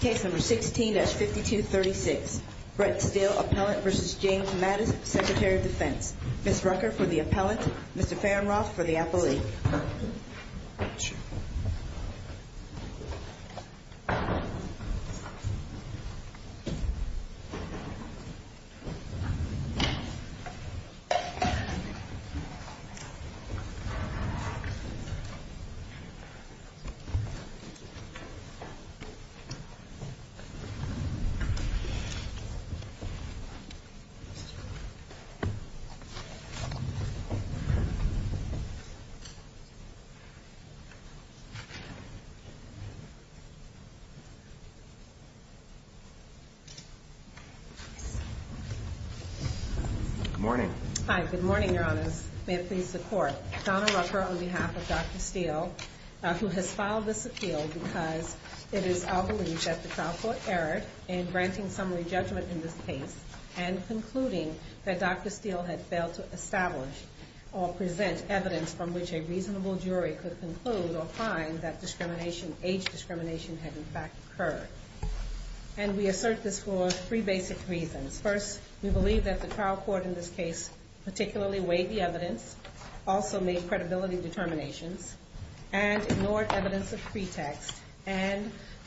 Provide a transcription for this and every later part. Case number 16-5236. Brett Steele, appellant v. James Mattis, Secretary of Defense. Ms. Rucker for the appellant, Mr. Fehrenroth for the appellee. Good morning. Hi, good morning, Your Honors. May it please the Court. Donna Rucker on behalf of the Court of Appeals, I'm pleased to be here today to discuss the case of Dr. Steele. I'm here today because it is our belief that the trial court erred in granting summary judgment in this case and concluding that Dr. Steele had failed to establish or present evidence from which a reasonable jury could conclude or find that discrimination, age discrimination, had in fact occurred. And we assert this for three basic reasons. First, we believe that the trial court in this case particularly weighed the evidence, also made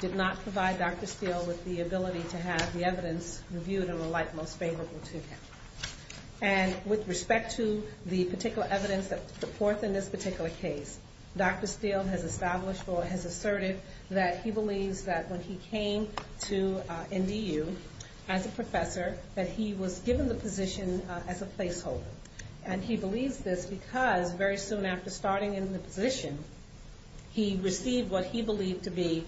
did not provide Dr. Steele with the ability to have the evidence reviewed and were like most favorable to him. And with respect to the particular evidence that's put forth in this particular case, Dr. Steele has established or has asserted that he believes that when he came to NDU as a professor that he was given the position as a placeholder. And he believes this because very soon after starting in the position, he received what he believed to be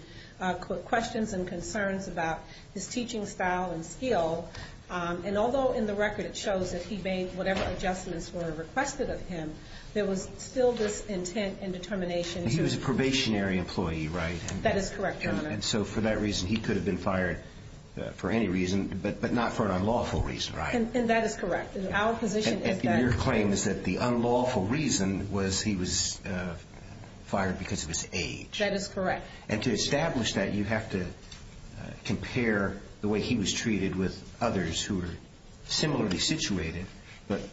questions and concerns about his teaching style and skill. And although in the record it shows that he made whatever adjustments were requested of him, there was still this intent and determination to... He was a probationary employee, right? That is correct, Your Honor. And so for that reason, he could have been fired for any reason, but not for an unlawful reason, right? And that is correct. Our position is that... And your claim is that the unlawful reason was he was fired because of his age. That is correct. And to establish that, you have to compare the way he was treated with others who were similarly situated, but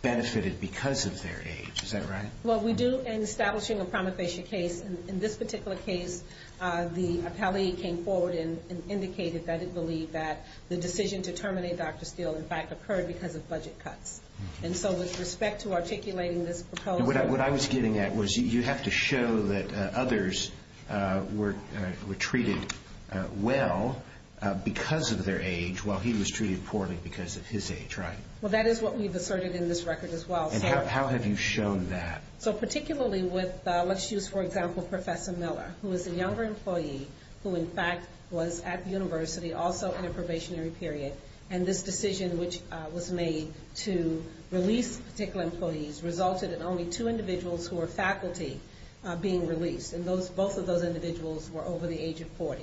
benefited because of their age. Is that right? Well, we do, in establishing a prima facie case, in this particular case, the appellee came forward and indicated that it believed that the decision to terminate Dr. Steele in fact occurred because of budget cuts. And so with respect to articulating this proposal... What I was getting at was you have to show that others were treated well because of their age, while he was treated poorly because of his age, right? Well, that is what we've asserted in this record as well. And how have you shown that? So particularly with, let's use for example Professor Miller, who is a younger employee who in fact was at the university, also in a probationary period. And this decision which was made to release particular employees resulted in only two individuals who were faculty being released. And both of those individuals were over the age of 40.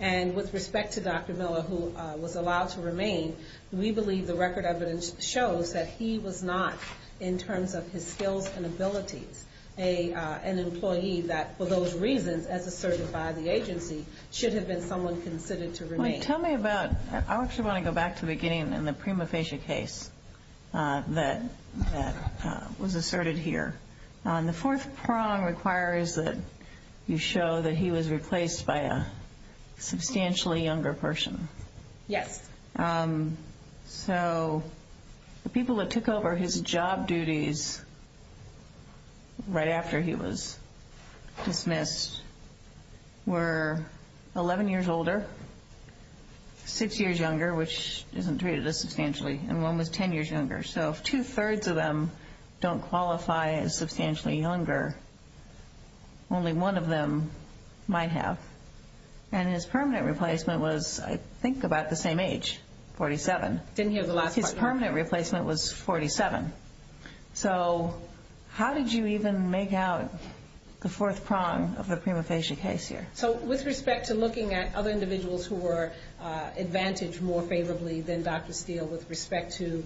And with respect to Dr. Miller, who was allowed to remain, we believe the record evidence shows that he was not, in terms of his skills and abilities, an employee that for those reasons, as asserted by the agency, should have been someone considered to remain. Tell me about, I actually want to go back to the beginning in the prima facie case that was asserted here. The fourth prong requires that you show that he was replaced by a substantially younger person. Yes. So the people that took over his job duties right after he was dismissed were 11 years older, 6 years younger, which isn't treated as substantially, and one was 10 years younger. So if two-thirds of them don't qualify as substantially younger, only one of them might have. And his permanent replacement was, I think, about the same age, 47. Didn't hear the last part. His permanent replacement was 47. So how did you even make out the fourth prong of the prima facie case here? So with respect to looking at other individuals who were advantaged more favorably than Dr. Steele with respect to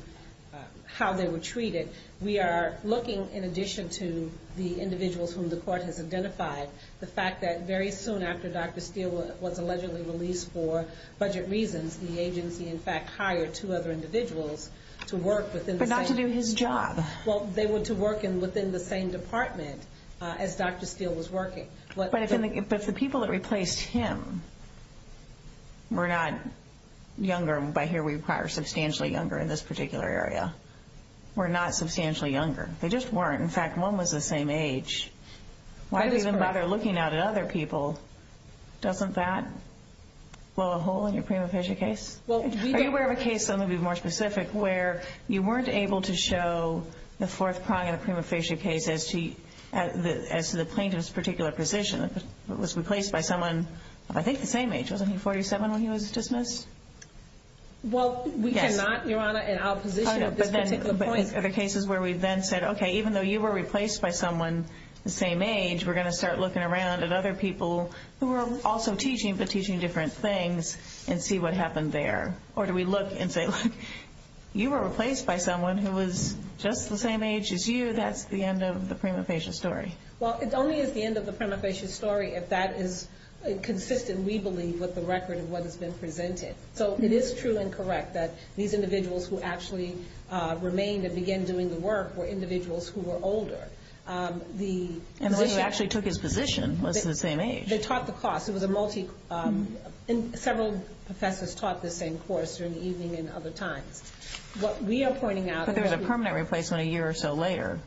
how they were treated, we are looking, in addition to the individuals whom the court has identified, the fact that very soon after Dr. Steele was allegedly released for budget reasons, the agency, in fact, hired two other individuals to work within the same department. But not to do his job. Well, they were to work within the same department as Dr. Steele was working. But if the people that replaced him were not younger, and by here we require substantially younger in this particular area, were not substantially younger. They just weren't. In fact, one was the same age. Why do we even bother looking out at other people? Doesn't that blow a hole in your prima facie case? Well, we don't Are you aware of a case, something to be more specific, where you weren't able to show the was replaced by someone of, I think, the same age. Wasn't he 47 when he was dismissed? Well, we cannot, Your Honor, in our position at this particular point Are there cases where we then said, okay, even though you were replaced by someone the same age, we're going to start looking around at other people who were also teaching, but teaching different things, and see what happened there. Or do we look and say, look, you were replaced by someone who was just the same age as you. That's the end of the prima facie story. Well, it only is the end of the prima facie story if that is consistent, we believe, with the record of what has been presented. So it is true and correct that these individuals who actually remained and began doing the work were individuals who were older. And the person who actually took his position was the same age. They taught the course. Several professors taught the same course during the evening and other times. What we are pointing out But there was a permanent replacement a year or so later.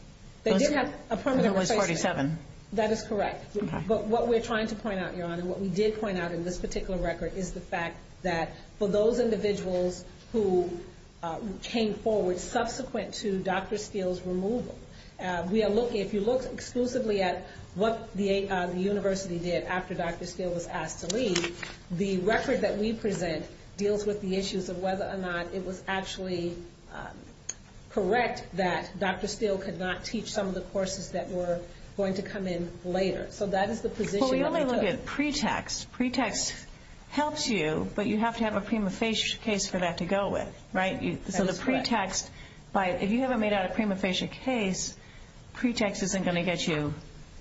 There did have a permanent replacement. And it was 47. That is correct. Okay. But what we're trying to point out, Your Honor, what we did point out in this particular record is the fact that for those individuals who came forward subsequent to Dr. Steele's removal, we are looking, if you look exclusively at what the university did after Dr. Steele was asked to leave, the record that we present deals with the issues of whether or not it was actually correct that Dr. Steele could not teach some of the courses that were going to come in later. So that is the position that we took. Well, we only look at pretext. Pretext helps you, but you have to have a prima facie case for that to go with, right? That is correct. So the pretext, if you haven't made out a prima facie case, pretext isn't going to get you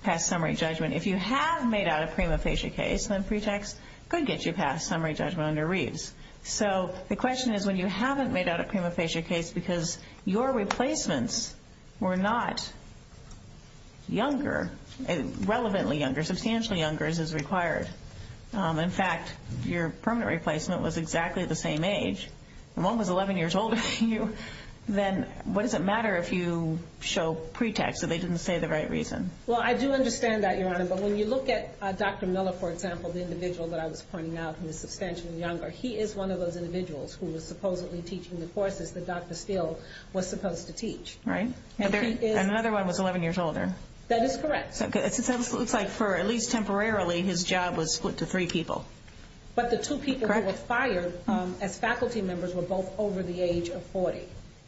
past summary judgment. If you have made out a prima facie case, then pretext could get you past summary judgment under Reeves. So the question is, when you haven't made out a prima facie case because your replacements were not younger, relevantly younger, substantially younger as is required, in fact, your permanent replacement was exactly the same age, and one was 11 years older than you, then what does it matter if you show pretext that they didn't say the right reason? Well, I do understand that, Your Honor. But when you look at Dr. Miller, for example, the individual that I was pointing out who is substantially younger, he is one of those individuals who was supposedly teaching the courses that Dr. Steele was supposed to teach. Right. And another one was 11 years older. That is correct. So it looks like for at least temporarily, his job was split to three people. But the two people who were fired as faculty members were both over the age of 40.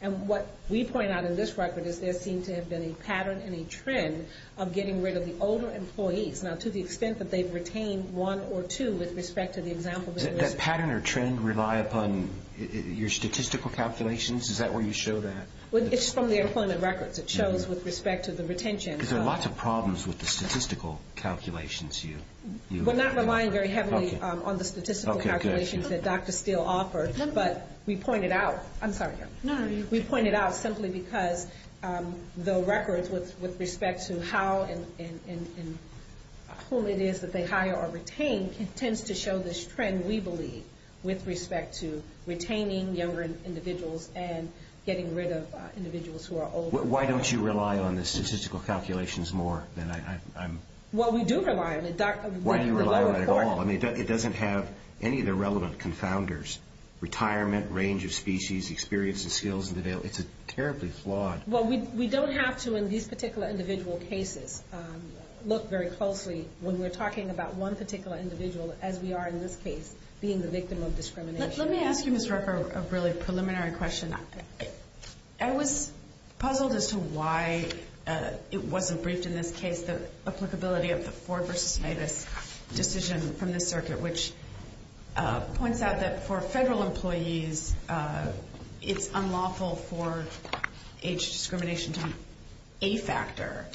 And what we point out in this record is there seemed to have been a pattern and a trend of getting rid of the older employees. Now, to the extent that they've retained one or two with respect to the example that you listed. Does that pattern or trend rely upon your statistical calculations? Is that where you show that? Well, it's from the employment records. It shows with respect to the retention. Because there are lots of problems with the statistical calculations you... We're not relying very heavily on the statistical calculations that Dr. Steele offered. Okay. Okay. But we pointed out... I'm sorry. No. We pointed out simply because the records with respect to how and who it is that they hire or retain tends to show this trend, we believe, with respect to retaining younger individuals and getting rid of individuals who are older. Why don't you rely on the statistical calculations more than I'm... Well, we do rely on it. Why do you rely on it at all? I mean, it doesn't have any of the relevant confounders. Retirement, range of species, experience and skills. It's terribly flawed. Well, we don't have to in these particular individual cases look very closely when we're talking about one particular individual as we are in this case, being the victim of discrimination. Let me ask you, Ms. Ruffer, a really preliminary question. Okay. I was puzzled as to why it wasn't briefed in this case, the applicability of the Ford v. Davis decision from the circuit, which points out that for federal employees, it's unlawful for age discrimination to be a factor.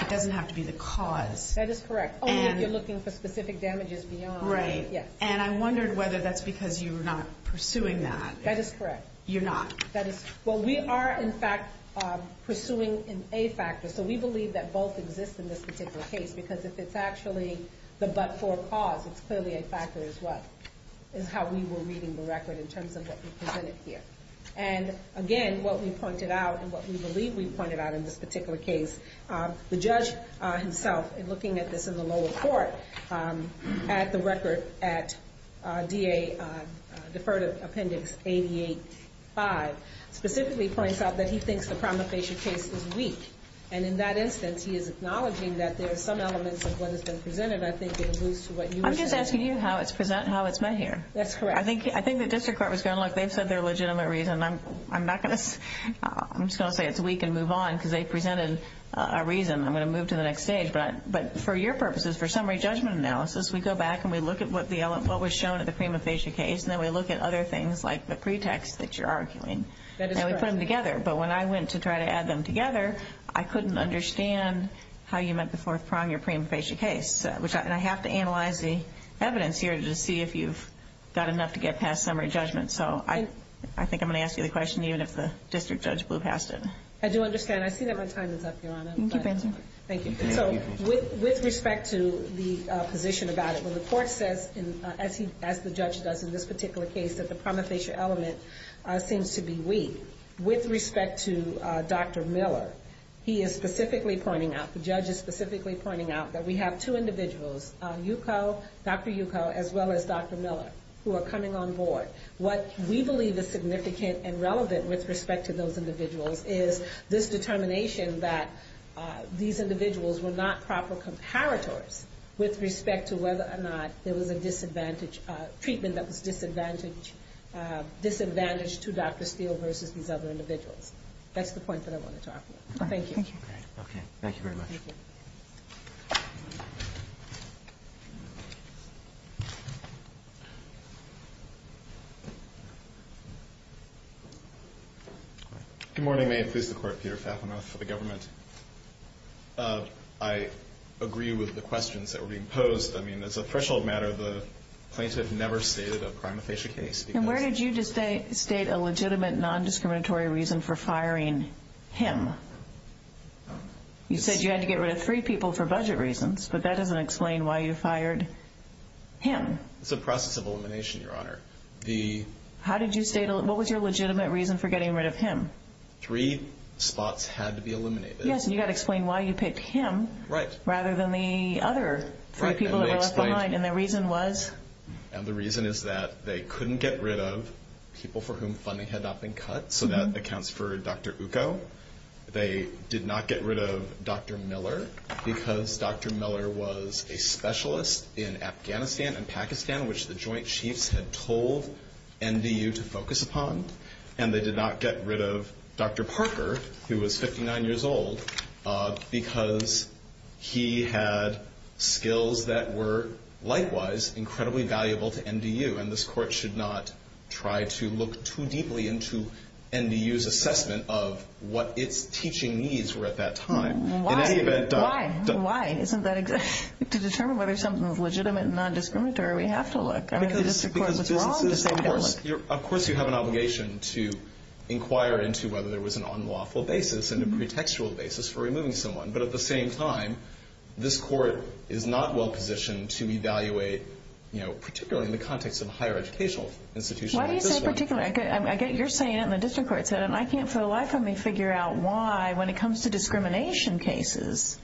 It doesn't have to be the cause. That is correct. Only if you're looking for specific damages beyond... Right. Yes. And I wondered whether that's because you're not pursuing that. That is correct. You're not? That is... Well, we are, in fact, pursuing an A factor. So we believe that both exist in this particular case, because if it's actually the but-for cause, it's clearly a factor as well, is how we were reading the record in terms of what we presented here. And again, what we pointed out and what we believe we pointed out in this particular case, the judge himself, in looking at this in the lower court, at the record at DA, Deferred Appendix 88-5, specifically points out that he thinks the pramifacia case is weak. And in that instance, he is acknowledging that there are some elements of what has been presented. I think it alludes to what you were saying. I'm just asking you how it's met here. That's correct. I think the district court was going, look, they've said they're legitimate reason. I'm not going to... I'm just going to say it's weak and move on, because they presented a reason. I'm going to move to the next stage. But for your purposes, for summary judgment analysis, we go back and we look at what was shown at the pramifacia case, and then we look at other things, like the pretext that you're arguing. That is correct. I put them together, but when I went to try to add them together, I couldn't understand how you met the fourth prong in your pramifacia case. And I have to analyze the evidence here to see if you've got enough to get past summary judgment. So I think I'm going to ask you the question, even if the district judge blew past it. I do understand. I see that my time is up, Your Honor. Keep answering. Thank you. So with respect to the position about it, when the court says, as the judge does in this particular case, that the pramifacia element seems to be weak, with respect to Dr. Miller, he is specifically pointing out, the judge is specifically pointing out, that we have two individuals, Dr. Yuko as well as Dr. Miller, who are coming on board. What we believe is significant and relevant with respect to those individuals is this determination that these individuals were not proper comparators with respect to whether or not there was a disadvantage, treatment that was disadvantaged to Dr. Steele versus these other individuals. That's the point that I want to talk about. Thank you. Okay. Thank you very much. Thank you. Good morning. May it please the Court, Peter Fafner for the government. I agree with the questions that were being posed. I mean, as a threshold matter, the plaintiff never stated a pramifacia case. And where did you state a legitimate non-discriminatory reason for firing him? You said you had to get rid of three people for budget reasons, but that doesn't explain why you fired him. It's a process of elimination, Your Honor. How did you state, what was your legitimate reason for getting rid of him? Three spots had to be eliminated. Yes, and you've got to explain why you picked him rather than the other three people that were left behind, and the reason was? And the reason is that they couldn't get rid of people for whom funding had not been cut, so that accounts for Dr. Ukko. They did not get rid of Dr. Miller because Dr. Miller was a specialist in Afghanistan and Pakistan, which the Joint Chiefs had told NDU to focus upon, and they did not get rid of Dr. Parker, who was 59 years old, because he had skills that were, likewise, incredibly valuable to NDU, and this Court should not try to look too deeply into NDU's assessment of what its teaching needs were at that time. Why? Why? To determine whether something is legitimate and non-discriminatory, we have to look. Of course you have an obligation to inquire into whether there was an unlawful basis and a pretextual basis for removing someone, but at the same time, this Court is not well-positioned to evaluate, particularly in the context of a higher educational institution like this one. Why do you say particularly? You're saying it, and the district court said it, and I can't for the life of me figure out why, when it comes to discrimination cases,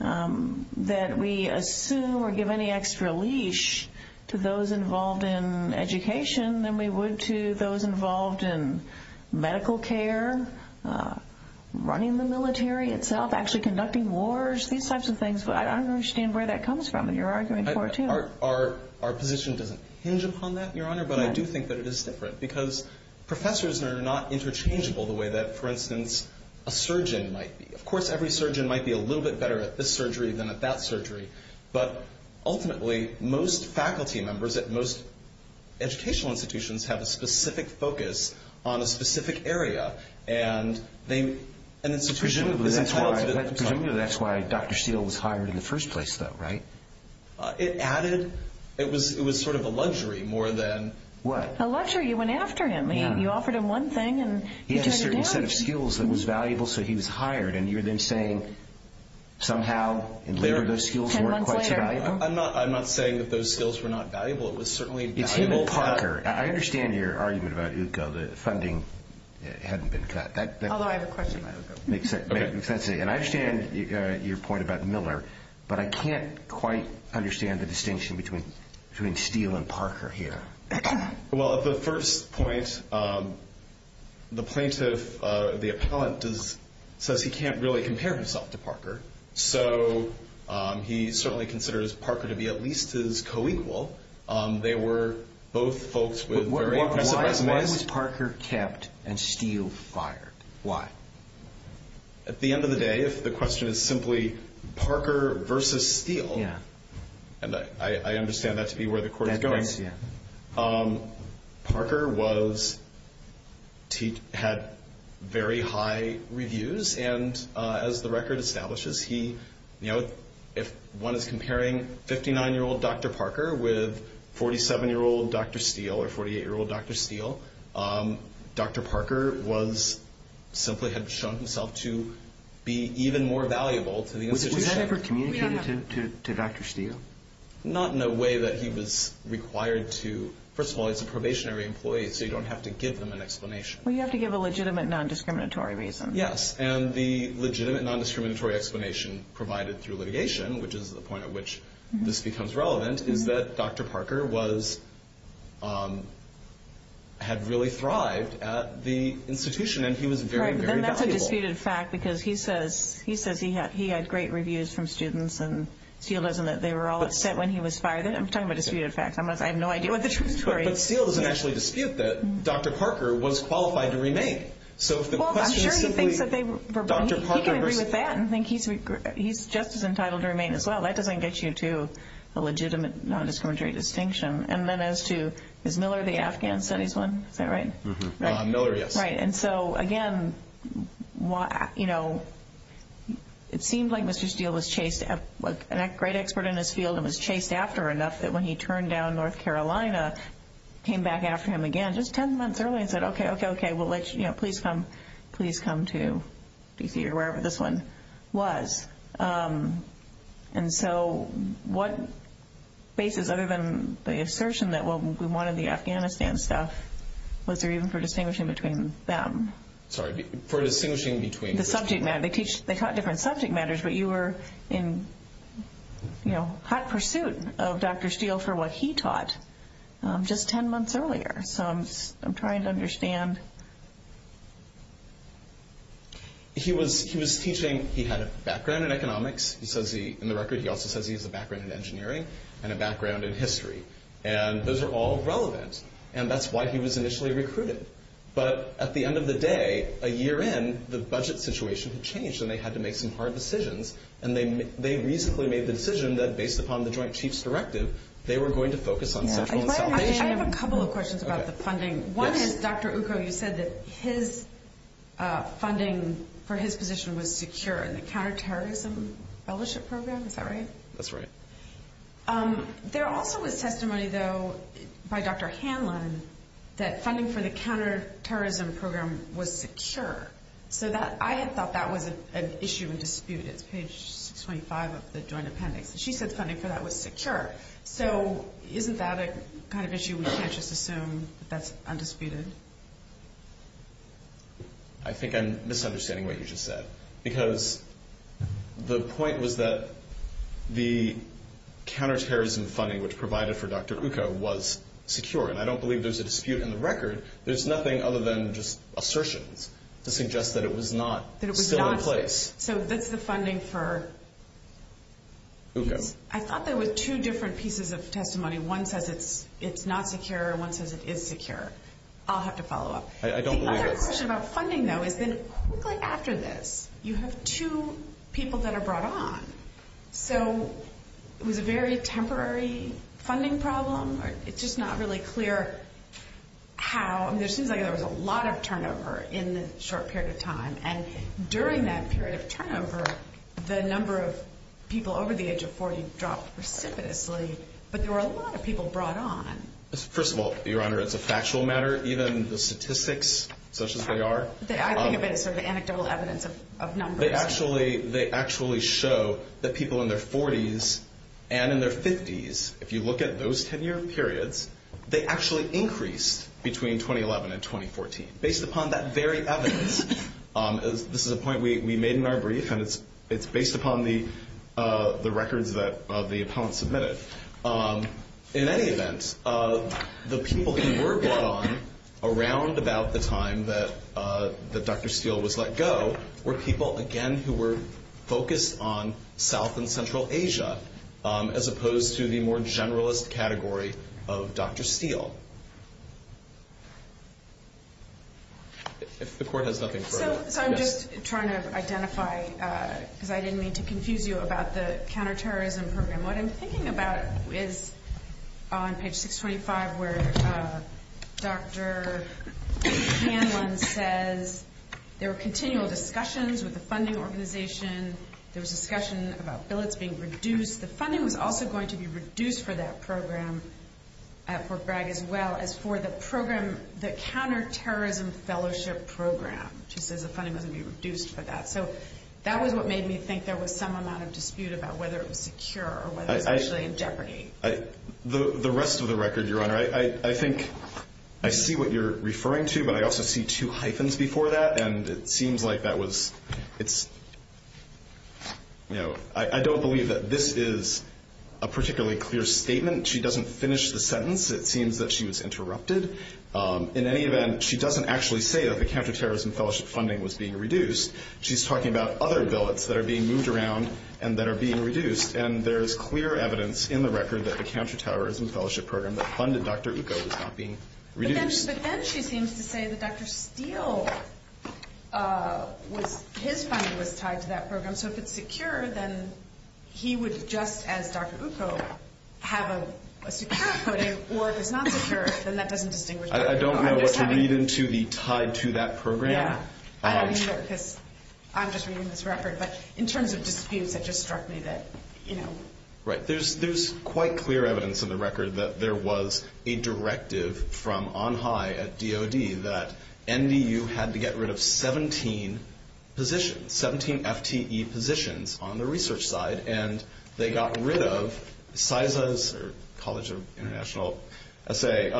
that we assume or give any extra leash to those involved in education than we would to those involved in medical care, running the military itself, actually conducting wars, these types of things. I don't understand where that comes from, and you're arguing for it, too. Our position doesn't hinge upon that, Your Honor, but I do think that it is different, because professors are not interchangeable the way that, for instance, a surgeon might be. Of course, every surgeon might be a little bit better at this surgery than at that surgery, but ultimately, most faculty members at most educational institutions have a specific focus on a specific area, and they... Presumably that's why Dr. Steele was hired in the first place, though, right? It added... It was sort of a luxury more than... What? A luxury. You went after him. You offered him one thing, and he turned it down. You offered him a certain set of skills that was valuable, so he was hired, and you're then saying somehow and later those skills weren't quite so valuable? Ten months later. I'm not saying that those skills were not valuable. It was certainly valuable... It's him and Parker. I understand your argument about UCO. The funding hadn't been cut. Although I have a question about UCO. Makes sense. And I understand your point about Miller, but I can't quite understand the distinction between Steele and Parker here. Well, at the first point, the plaintiff, the appellant, says he can't really compare himself to Parker, so he certainly considers Parker to be at least his co-equal. They were both folks with very impressive resumes. Why was Parker kept and Steele fired? Why? At the end of the day, if the question is simply Parker versus Steele, and I understand that to be where the court is going, Parker had very high reviews, and as the record establishes, if one is comparing 59-year-old Dr. Parker with 47-year-old Dr. Steele or 48-year-old Dr. Steele, Dr. Parker simply had shown himself to be even more valuable to the institution. Was that ever communicated to Dr. Steele? Not in a way that he was required to. First of all, he's a probationary employee, so you don't have to give them an explanation. Well, you have to give a legitimate non-discriminatory reason. Yes, and the legitimate non-discriminatory explanation provided through litigation, which is the point at which this becomes relevant, is that Dr. Parker had really thrived at the institution, and he was very, very valuable. Well, that's a disputed fact, because he says he had great reviews from students, and Steele doesn't, that they were all upset when he was fired. I'm talking about disputed facts. I have no idea what the truth is. But Steele doesn't actually dispute that Dr. Parker was qualified to remain. Well, I'm sure he thinks that they were, he can agree with that and think he's just as entitled to remain as well. That doesn't get you to a legitimate non-discriminatory distinction. And then as to Ms. Miller, the Afghan Studies one, is that right? Mm-hmm. Miller, yes. Right, and so, again, you know, it seems like Mr. Steele was chased, a great expert in his field, and was chased after enough that when he turned down North Carolina, came back after him again just 10 months earlier and said, okay, okay, okay, we'll let you, you know, please come to D.C. or wherever this one was. And so what basis, other than the assertion that we wanted the Afghanistan stuff, was there even for distinguishing between them? Sorry, for distinguishing between? The subject matter. They taught different subject matters, but you were in, you know, hot pursuit of Dr. Steele for what he taught just 10 months earlier. So I'm trying to understand. He was teaching, he had a background in economics. He says he, in the record, he also says he has a background in engineering and a background in history, and those are all relevant. And that's why he was initially recruited. But at the end of the day, a year in, the budget situation changed and they had to make some hard decisions, and they reasonably made the decision that based upon the Joint Chiefs Directive, they were going to focus on Central and South Asia. I have a couple of questions about the funding. One is, Dr. Uko, you said that his funding for his position was secure in the Counterterrorism Fellowship Program, is that right? That's right. There also was testimony, though, by Dr. Hanlon, that funding for the Counterterrorism Program was secure. So I had thought that was an issue in dispute. It's page 625 of the Joint Appendix. She said funding for that was secure. So isn't that a kind of issue we can't just assume that's undisputed? I think I'm misunderstanding what you just said, because the point was that the counterterrorism funding, which provided for Dr. Uko, was secure. And I don't believe there's a dispute in the record. There's nothing other than just assertions to suggest that it was not still in place. So that's the funding for? Uko. I thought there were two different pieces of testimony. One says it's not secure and one says it is secure. I'll have to follow up. I don't believe that. My question about funding, though, is that quickly after this, you have two people that are brought on. So it was a very temporary funding problem. It's just not really clear how. It seems like there was a lot of turnover in a short period of time. And during that period of turnover, the number of people over the age of 40 dropped precipitously. But there were a lot of people brought on. First of all, Your Honor, it's a factual matter. Even the statistics, such as they are. I think of it as sort of anecdotal evidence of numbers. They actually show that people in their 40s and in their 50s, if you look at those 10-year periods, they actually increased between 2011 and 2014, based upon that very evidence. This is a point we made in our brief, and it's based upon the records that the appellant submitted. In any event, the people who were brought on around about the time that Dr. Steele was let go were people, again, who were focused on South and Central Asia, as opposed to the more generalist category of Dr. Steele. If the Court has nothing further. So I'm just trying to identify, because I didn't mean to confuse you about the counterterrorism program. What I'm thinking about is on page 625 where Dr. Hanlon says there were continual discussions with the funding organization. There was discussion about billets being reduced. The funding was also going to be reduced for that program at Fort Bragg as well as for the program, the counterterrorism fellowship program. She says the funding was going to be reduced for that. So that was what made me think there was some amount of dispute about whether it was secure or whether it was actually in jeopardy. The rest of the record, Your Honor. I think I see what you're referring to, but I also see two hyphens before that, and it seems like that was, you know, I don't believe that this is a particularly clear statement. She doesn't finish the sentence. It seems that she was interrupted. In any event, she doesn't actually say that the counterterrorism fellowship funding was being reduced. She's talking about other billets that are being moved around and that are being reduced, and there is clear evidence in the record that the counterterrorism fellowship program that funded Dr. Uko was not being reduced. But then she seems to say that Dr. Steele, his funding was tied to that program. So if it's secure, then he would, just as Dr. Uko, have a secure footing, or if it's not secure, then that doesn't distinguish between the two. I don't know what to read into the tied to that program. I don't either because I'm just reading this record. But in terms of disputes, it just struck me that, you know. Right. There's quite clear evidence in the record that there was a directive from on high at DOD that NDU had to get rid of 17 positions, 17 FTE positions on the research side, and they got rid of CISA's, or College of International Assay,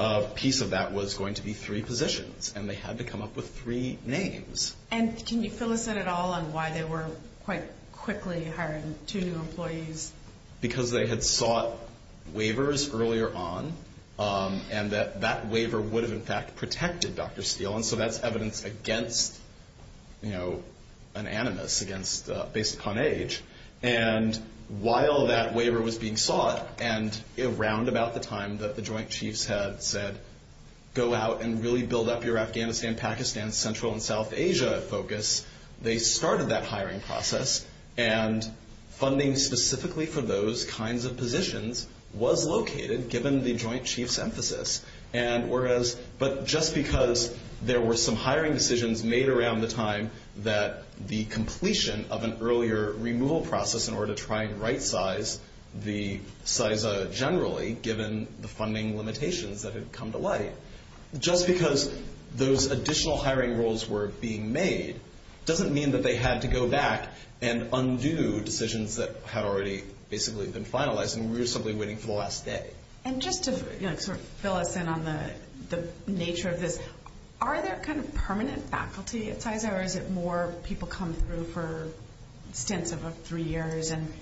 a piece of that was going to be three positions, and they had to come up with three names. And can you fill us in at all on why they were quite quickly hiring two new employees? Because they had sought waivers earlier on, and that that waiver would have, in fact, protected Dr. Steele, and so that's evidence against, you know, an animus based upon age. And while that waiver was being sought, and around about the time that the Joint Chiefs had said, go out and really build up your Afghanistan, Pakistan, Central, and South Asia focus, they started that hiring process, and funding specifically for those kinds of positions was located, given the Joint Chiefs' emphasis. And whereas, but just because there were some hiring decisions made around the time that the completion of an earlier removal process in order to try and right size the CISA generally, given the funding limitations that had come to light, just because those additional hiring roles were being made, doesn't mean that they had to go back and undo decisions that had already basically been finalized, and we were simply waiting for the last day. And just to, you know, sort of fill us in on the nature of this, are there kind of permanent faculty at CISA, or is it more people come through for stints of three years, and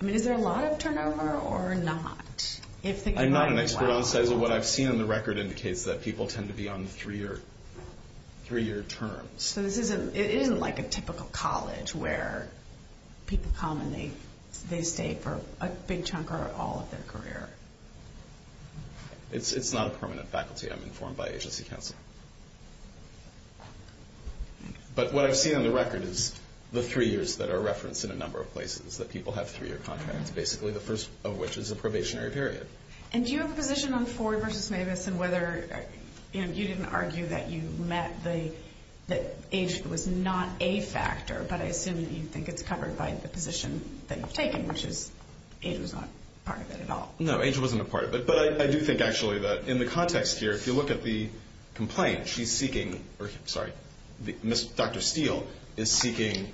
I mean, is there a lot of turnover, or not? I'm not an expert on CISA. What I've seen on the record indicates that people tend to be on three-year terms. So this isn't like a typical college where people come and they stay for a big chunk or all of their career. It's not a permanent faculty. I'm informed by agency counsel. But what I've seen on the record is the three years that are referenced in a number of places, that people have three-year contracts, basically the first of which is a probationary period. And do you have a position on Ford versus Mavis and whether, you know, you didn't argue that you met the age that was not a factor, but I assume that you think it's covered by the position that you've taken, which is age was not part of it at all. No, age wasn't a part of it. But I do think actually that in the context here, if you look at the complaint, she's seeking, or sorry, Dr. Steele is seeking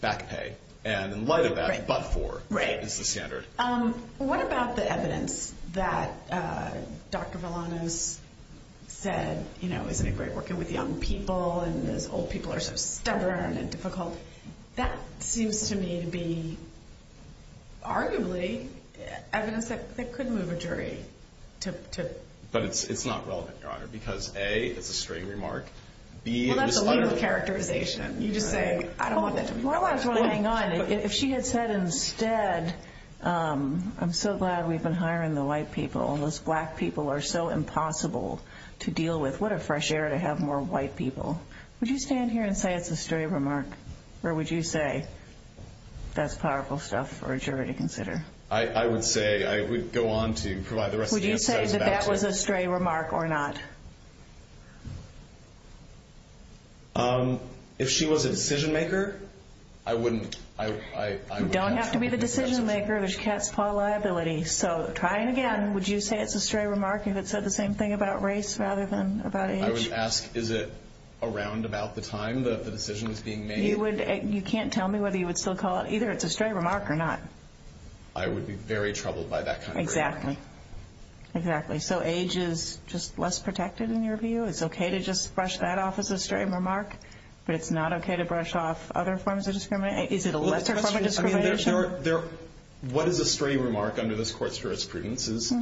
back pay. And in light of that, but for is the standard. What about the evidence that Dr. Villanueva said, you know, isn't it great working with young people and those old people are so stubborn and difficult? That seems to me to be arguably evidence that could move a jury. But it's not relevant, Your Honor, because, A, it's a stray remark. Well, that's a legal characterization. You just say, I don't want that to move a jury. Well, I was going to hang on. If she had said instead, I'm so glad we've been hiring the white people and those black people are so impossible to deal with. What a fresh air to have more white people. Would you stand here and say it's a stray remark? Or would you say that's powerful stuff for a jury to consider? I would say I would go on to provide the rest of the answers. Would you say that that was a stray remark or not? If she was a decision maker, I wouldn't. You don't have to be the decision maker. There's cat's paw liability. So try again. Would you say it's a stray remark if it said the same thing about race rather than about age? I would ask, is it around about the time the decision was being made? You can't tell me whether you would still call it either it's a stray remark or not. I would be very troubled by that kind of remark. Exactly. So age is just less protected in your view? It's okay to just brush that off as a stray remark, but it's not okay to brush off other forms of discrimination? Is it a lesser form of discrimination? What is a stray remark under this Court's jurisprudence is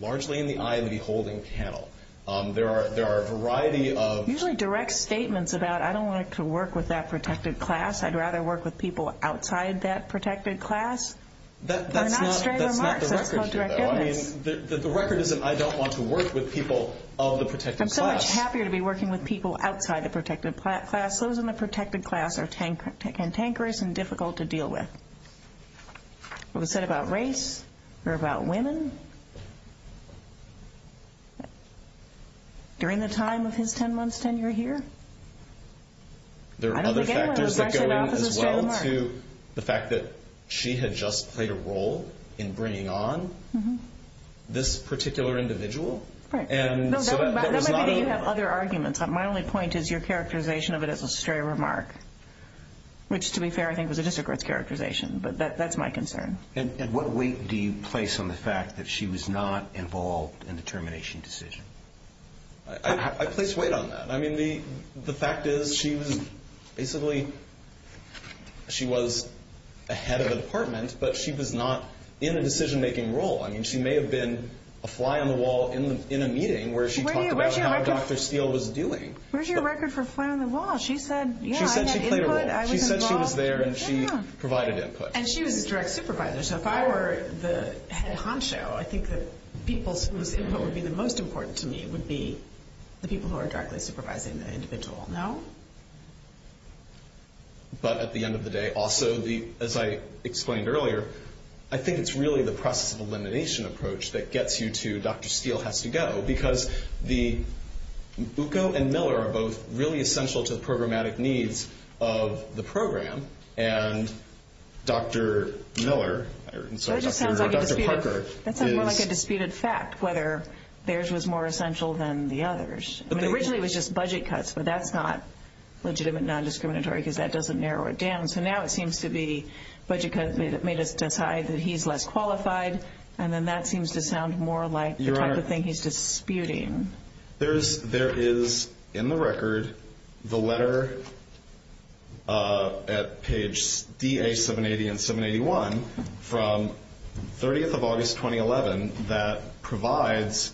largely in the eye of the holding panel. There are a variety of- Usually direct statements about I don't want to work with that protected class. I'd rather work with people outside that protected class. They're not stray remarks. That's not direct evidence. The record is that I don't want to work with people of the protected class. I'm so much happier to be working with people outside the protected class. Those in the protected class are cantankerous and difficult to deal with. What was said about race or about women during the time of his 10-month tenure here? There are other factors that go in as well to the fact that she had just played a role in bringing on this particular individual. That might be that you have other arguments. My only point is your characterization of it as a stray remark, which, to be fair, I think was a district court's characterization, but that's my concern. What weight do you place on the fact that she was not involved in the termination decision? I place weight on that. The fact is she was ahead of the department, but she was not in a decision-making role. She may have been a fly on the wall in a meeting where she talked about how Dr. Steele was doing. Where's your record for fly on the wall? She said, yeah, I had input. She said she was there and she provided input. And she was a direct supervisor. So if I were the head honcho, I think the people whose input would be the most important to me would be the people who are directly supervising the individual. No? But at the end of the day, also, as I explained earlier, I think it's really the process of elimination approach that gets you to Dr. Steele has to go because Uco and Miller are both really essential to the programmatic needs of the program, and Dr. Miller, I'm sorry, Dr. Parker. That sounds more like a disputed fact, whether theirs was more essential than the others. Originally it was just budget cuts, but that's not legitimate non-discriminatory because that doesn't narrow it down. So now it seems to be budget cuts made us decide that he's less qualified, and then that seems to sound more like the type of thing he's disputing. There is in the record the letter at page DA780 and 781 from 30th of August, 2011, that provides,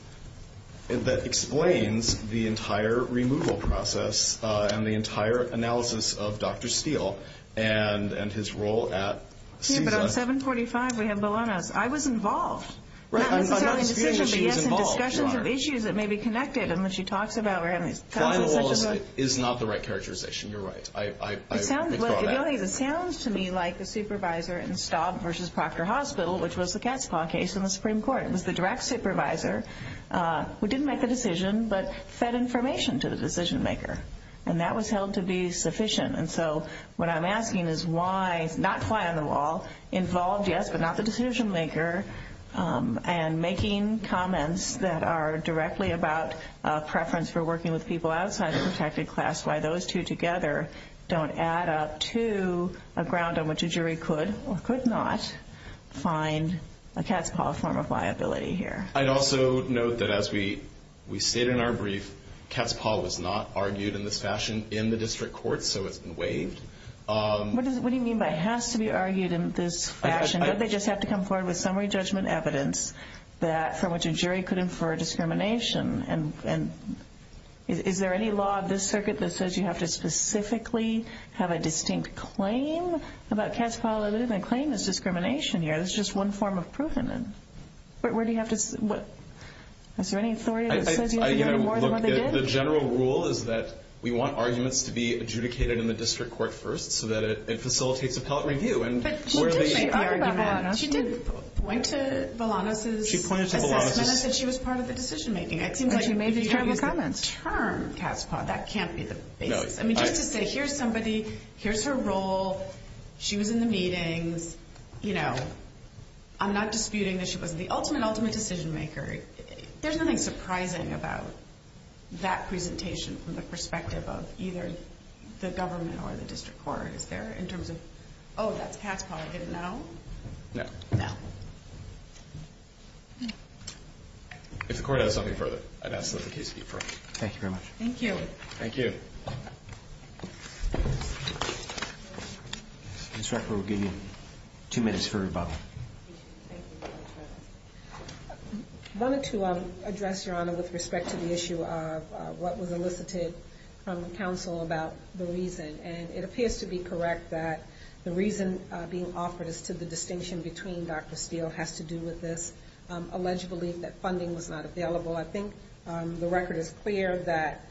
that explains the entire removal process and the entire analysis of Dr. Steele and his role at CISA. But on 745, we have Bologna's. I was involved. Not necessarily in the decision, but yes, in discussions of issues that may be connected. And when she talks about her having these conversations. Flying the wall is not the right characterization. You're right. It sounds to me like the supervisor in Staub v. Proctor Hospital, which was the cat's paw case in the Supreme Court, was the direct supervisor who didn't make the decision but fed information to the decision maker, and that was held to be sufficient. And so what I'm asking is why not fly on the wall, involved, yes, but not the decision maker, and making comments that are directly about a preference for working with people outside the protected class, why those two together don't add up to a ground on which a jury could or could not find a cat's paw form of liability here. I'd also note that as we state in our brief, cat's paw was not argued in this fashion in the district court, so it's been waived. What do you mean by it has to be argued in this fashion? Don't they just have to come forward with summary judgment evidence from which a jury could infer discrimination? Is there any law of this circuit that says you have to specifically have a distinct claim about cat's paw liability and claim there's discrimination here? There's just one form of provenance. Where do you have to say? Is there any authority that says you have to do more than what they did? The general rule is that we want arguments to be adjudicated in the district court first so that it facilitates appellate review. But she did make the argument. She did point to Volanos' assessment as if she was part of the decision making. But she made these terrible comments. It seems like if you don't use the term cat's paw, that can't be the basis. Just to say here's somebody, here's her role, she was in the meetings, I'm not disputing that she was the ultimate, ultimate decision maker. There's nothing surprising about that presentation from the perspective of either the government or the district court. Is there in terms of, oh, that's cat's paw, I didn't know? No. No. If the court has something further, I'd ask that the case be referred. Thank you very much. Thank you. Thank you. Ms. Rucker, we'll give you two minutes for rebuttal. I wanted to address, Your Honor, with respect to the issue of what was elicited from the counsel about the reason. And it appears to be correct that the reason being offered is to the distinction between Dr. Steele has to do with this alleged belief that funding was not available. I think the record is clear that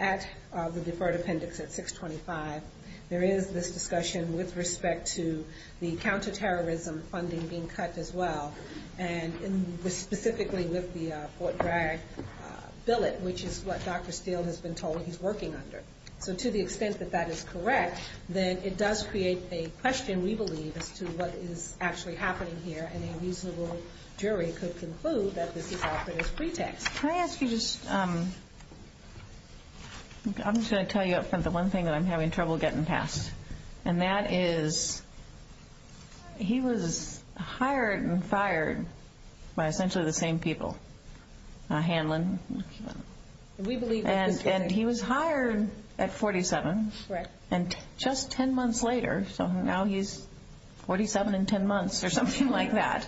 at the deferred appendix at 625, there is this discussion with respect to the counterterrorism funding being cut as well, and specifically with the Fort Bragg billet, which is what Dr. Steele has been told he's working under. So to the extent that that is correct, then it does create a question, we believe, as to what is actually happening here, and a reasonable jury could conclude that this is offered as pretext. Can I ask you just, I'm just going to tell you up front the one thing that I'm having trouble getting past, and that is he was hired and fired by essentially the same people, Hanlon. And he was hired at 47, and just 10 months later, so now he's 47 and 10 months, or something like that.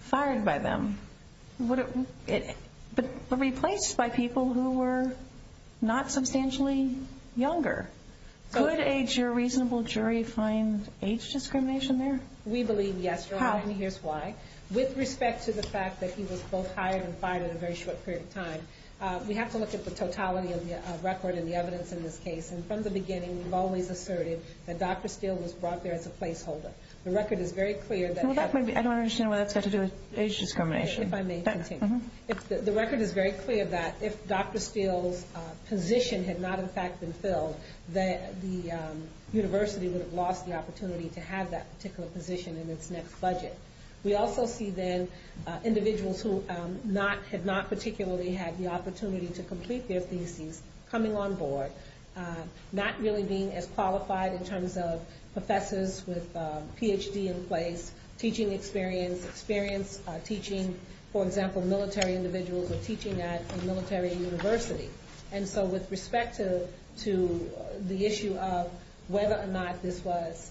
Fired by them. But replaced by people who were not substantially younger. Could a reasonable jury find age discrimination there? We believe yes, and here's why. With respect to the fact that he was both hired and fired in a very short period of time, we have to look at the totality of the record and the evidence in this case. And from the beginning, we've always asserted that Dr. Steele was brought there as a placeholder. The record is very clear that... I don't understand why that's got to do with age discrimination. If I may continue. The record is very clear that if Dr. Steele's position had not in fact been filled, that the university would have lost the opportunity to have that particular position in its next budget. We also see then individuals who had not particularly had the opportunity to complete their thesis coming on board, not really being as qualified in terms of professors with Ph.D. in place, teaching experience, experience teaching, for example, military individuals or teaching at a military university. And so with respect to the issue of whether or not this was,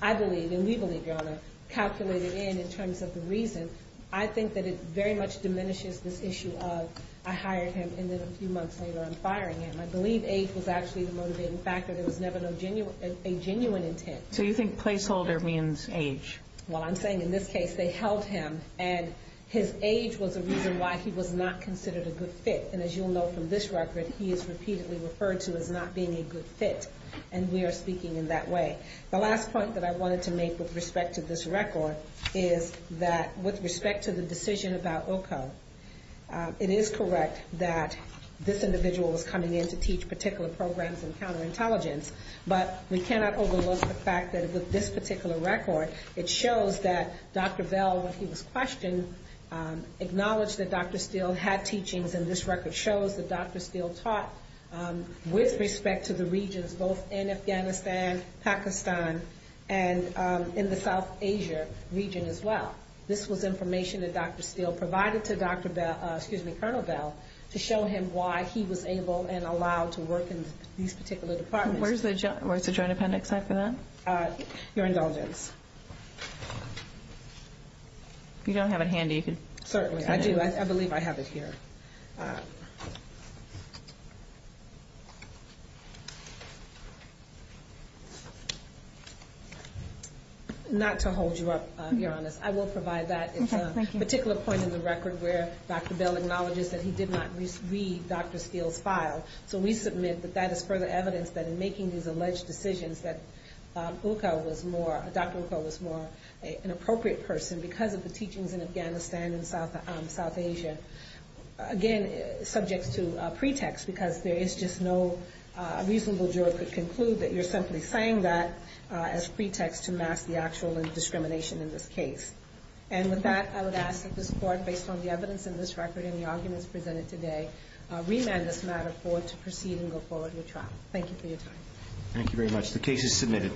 I believe, and we believe, Your Honor, calculated in in terms of the reason, I think that it very much diminishes this issue of I hired him and then a few months later I'm firing him. I believe age was actually the motivating factor. There was never a genuine intent. So you think placeholder means age? Well, I'm saying in this case they held him and his age was a reason why he was not considered a good fit. And as you'll know from this record, he is repeatedly referred to as not being a good fit. And we are speaking in that way. The last point that I wanted to make with respect to this record is that with respect to the decision about Ilko, it is correct that this individual was coming in to teach particular programs in counterintelligence, but we cannot overlook the fact that with this particular record, it shows that Dr. Bell, when he was questioned, acknowledged that Dr. Steele had teachings and this record shows that Dr. Steele taught with respect to the regions both in Afghanistan, Pakistan, and in the South Asia region as well. This was information that Dr. Steele provided to Colonel Bell to show him why he was able and allowed to work in these particular departments. Where's the Joint Appendix for that? Your indulgence. You don't have it handy. Certainly, I do. I believe I have it here. Not to hold you up, Your Honor. I will provide that. It's a particular point in the record where Dr. Bell acknowledges that he did not read Dr. Steele's file. So we submit that that is further evidence that in making these alleged decisions that Dr. Ilko was more an appropriate person because of the teachings in Afghanistan and South Asia. Again, subject to pretext because there is just no reasonable juror could conclude that you're simply saying that as pretext to mask the actual discrimination in this case. And with that, I would ask that this Court, based on the evidence in this record and the arguments presented today, remand this matter forward to proceed and go forward with trial. Thank you for your time. Thank you very much. The case is submitted.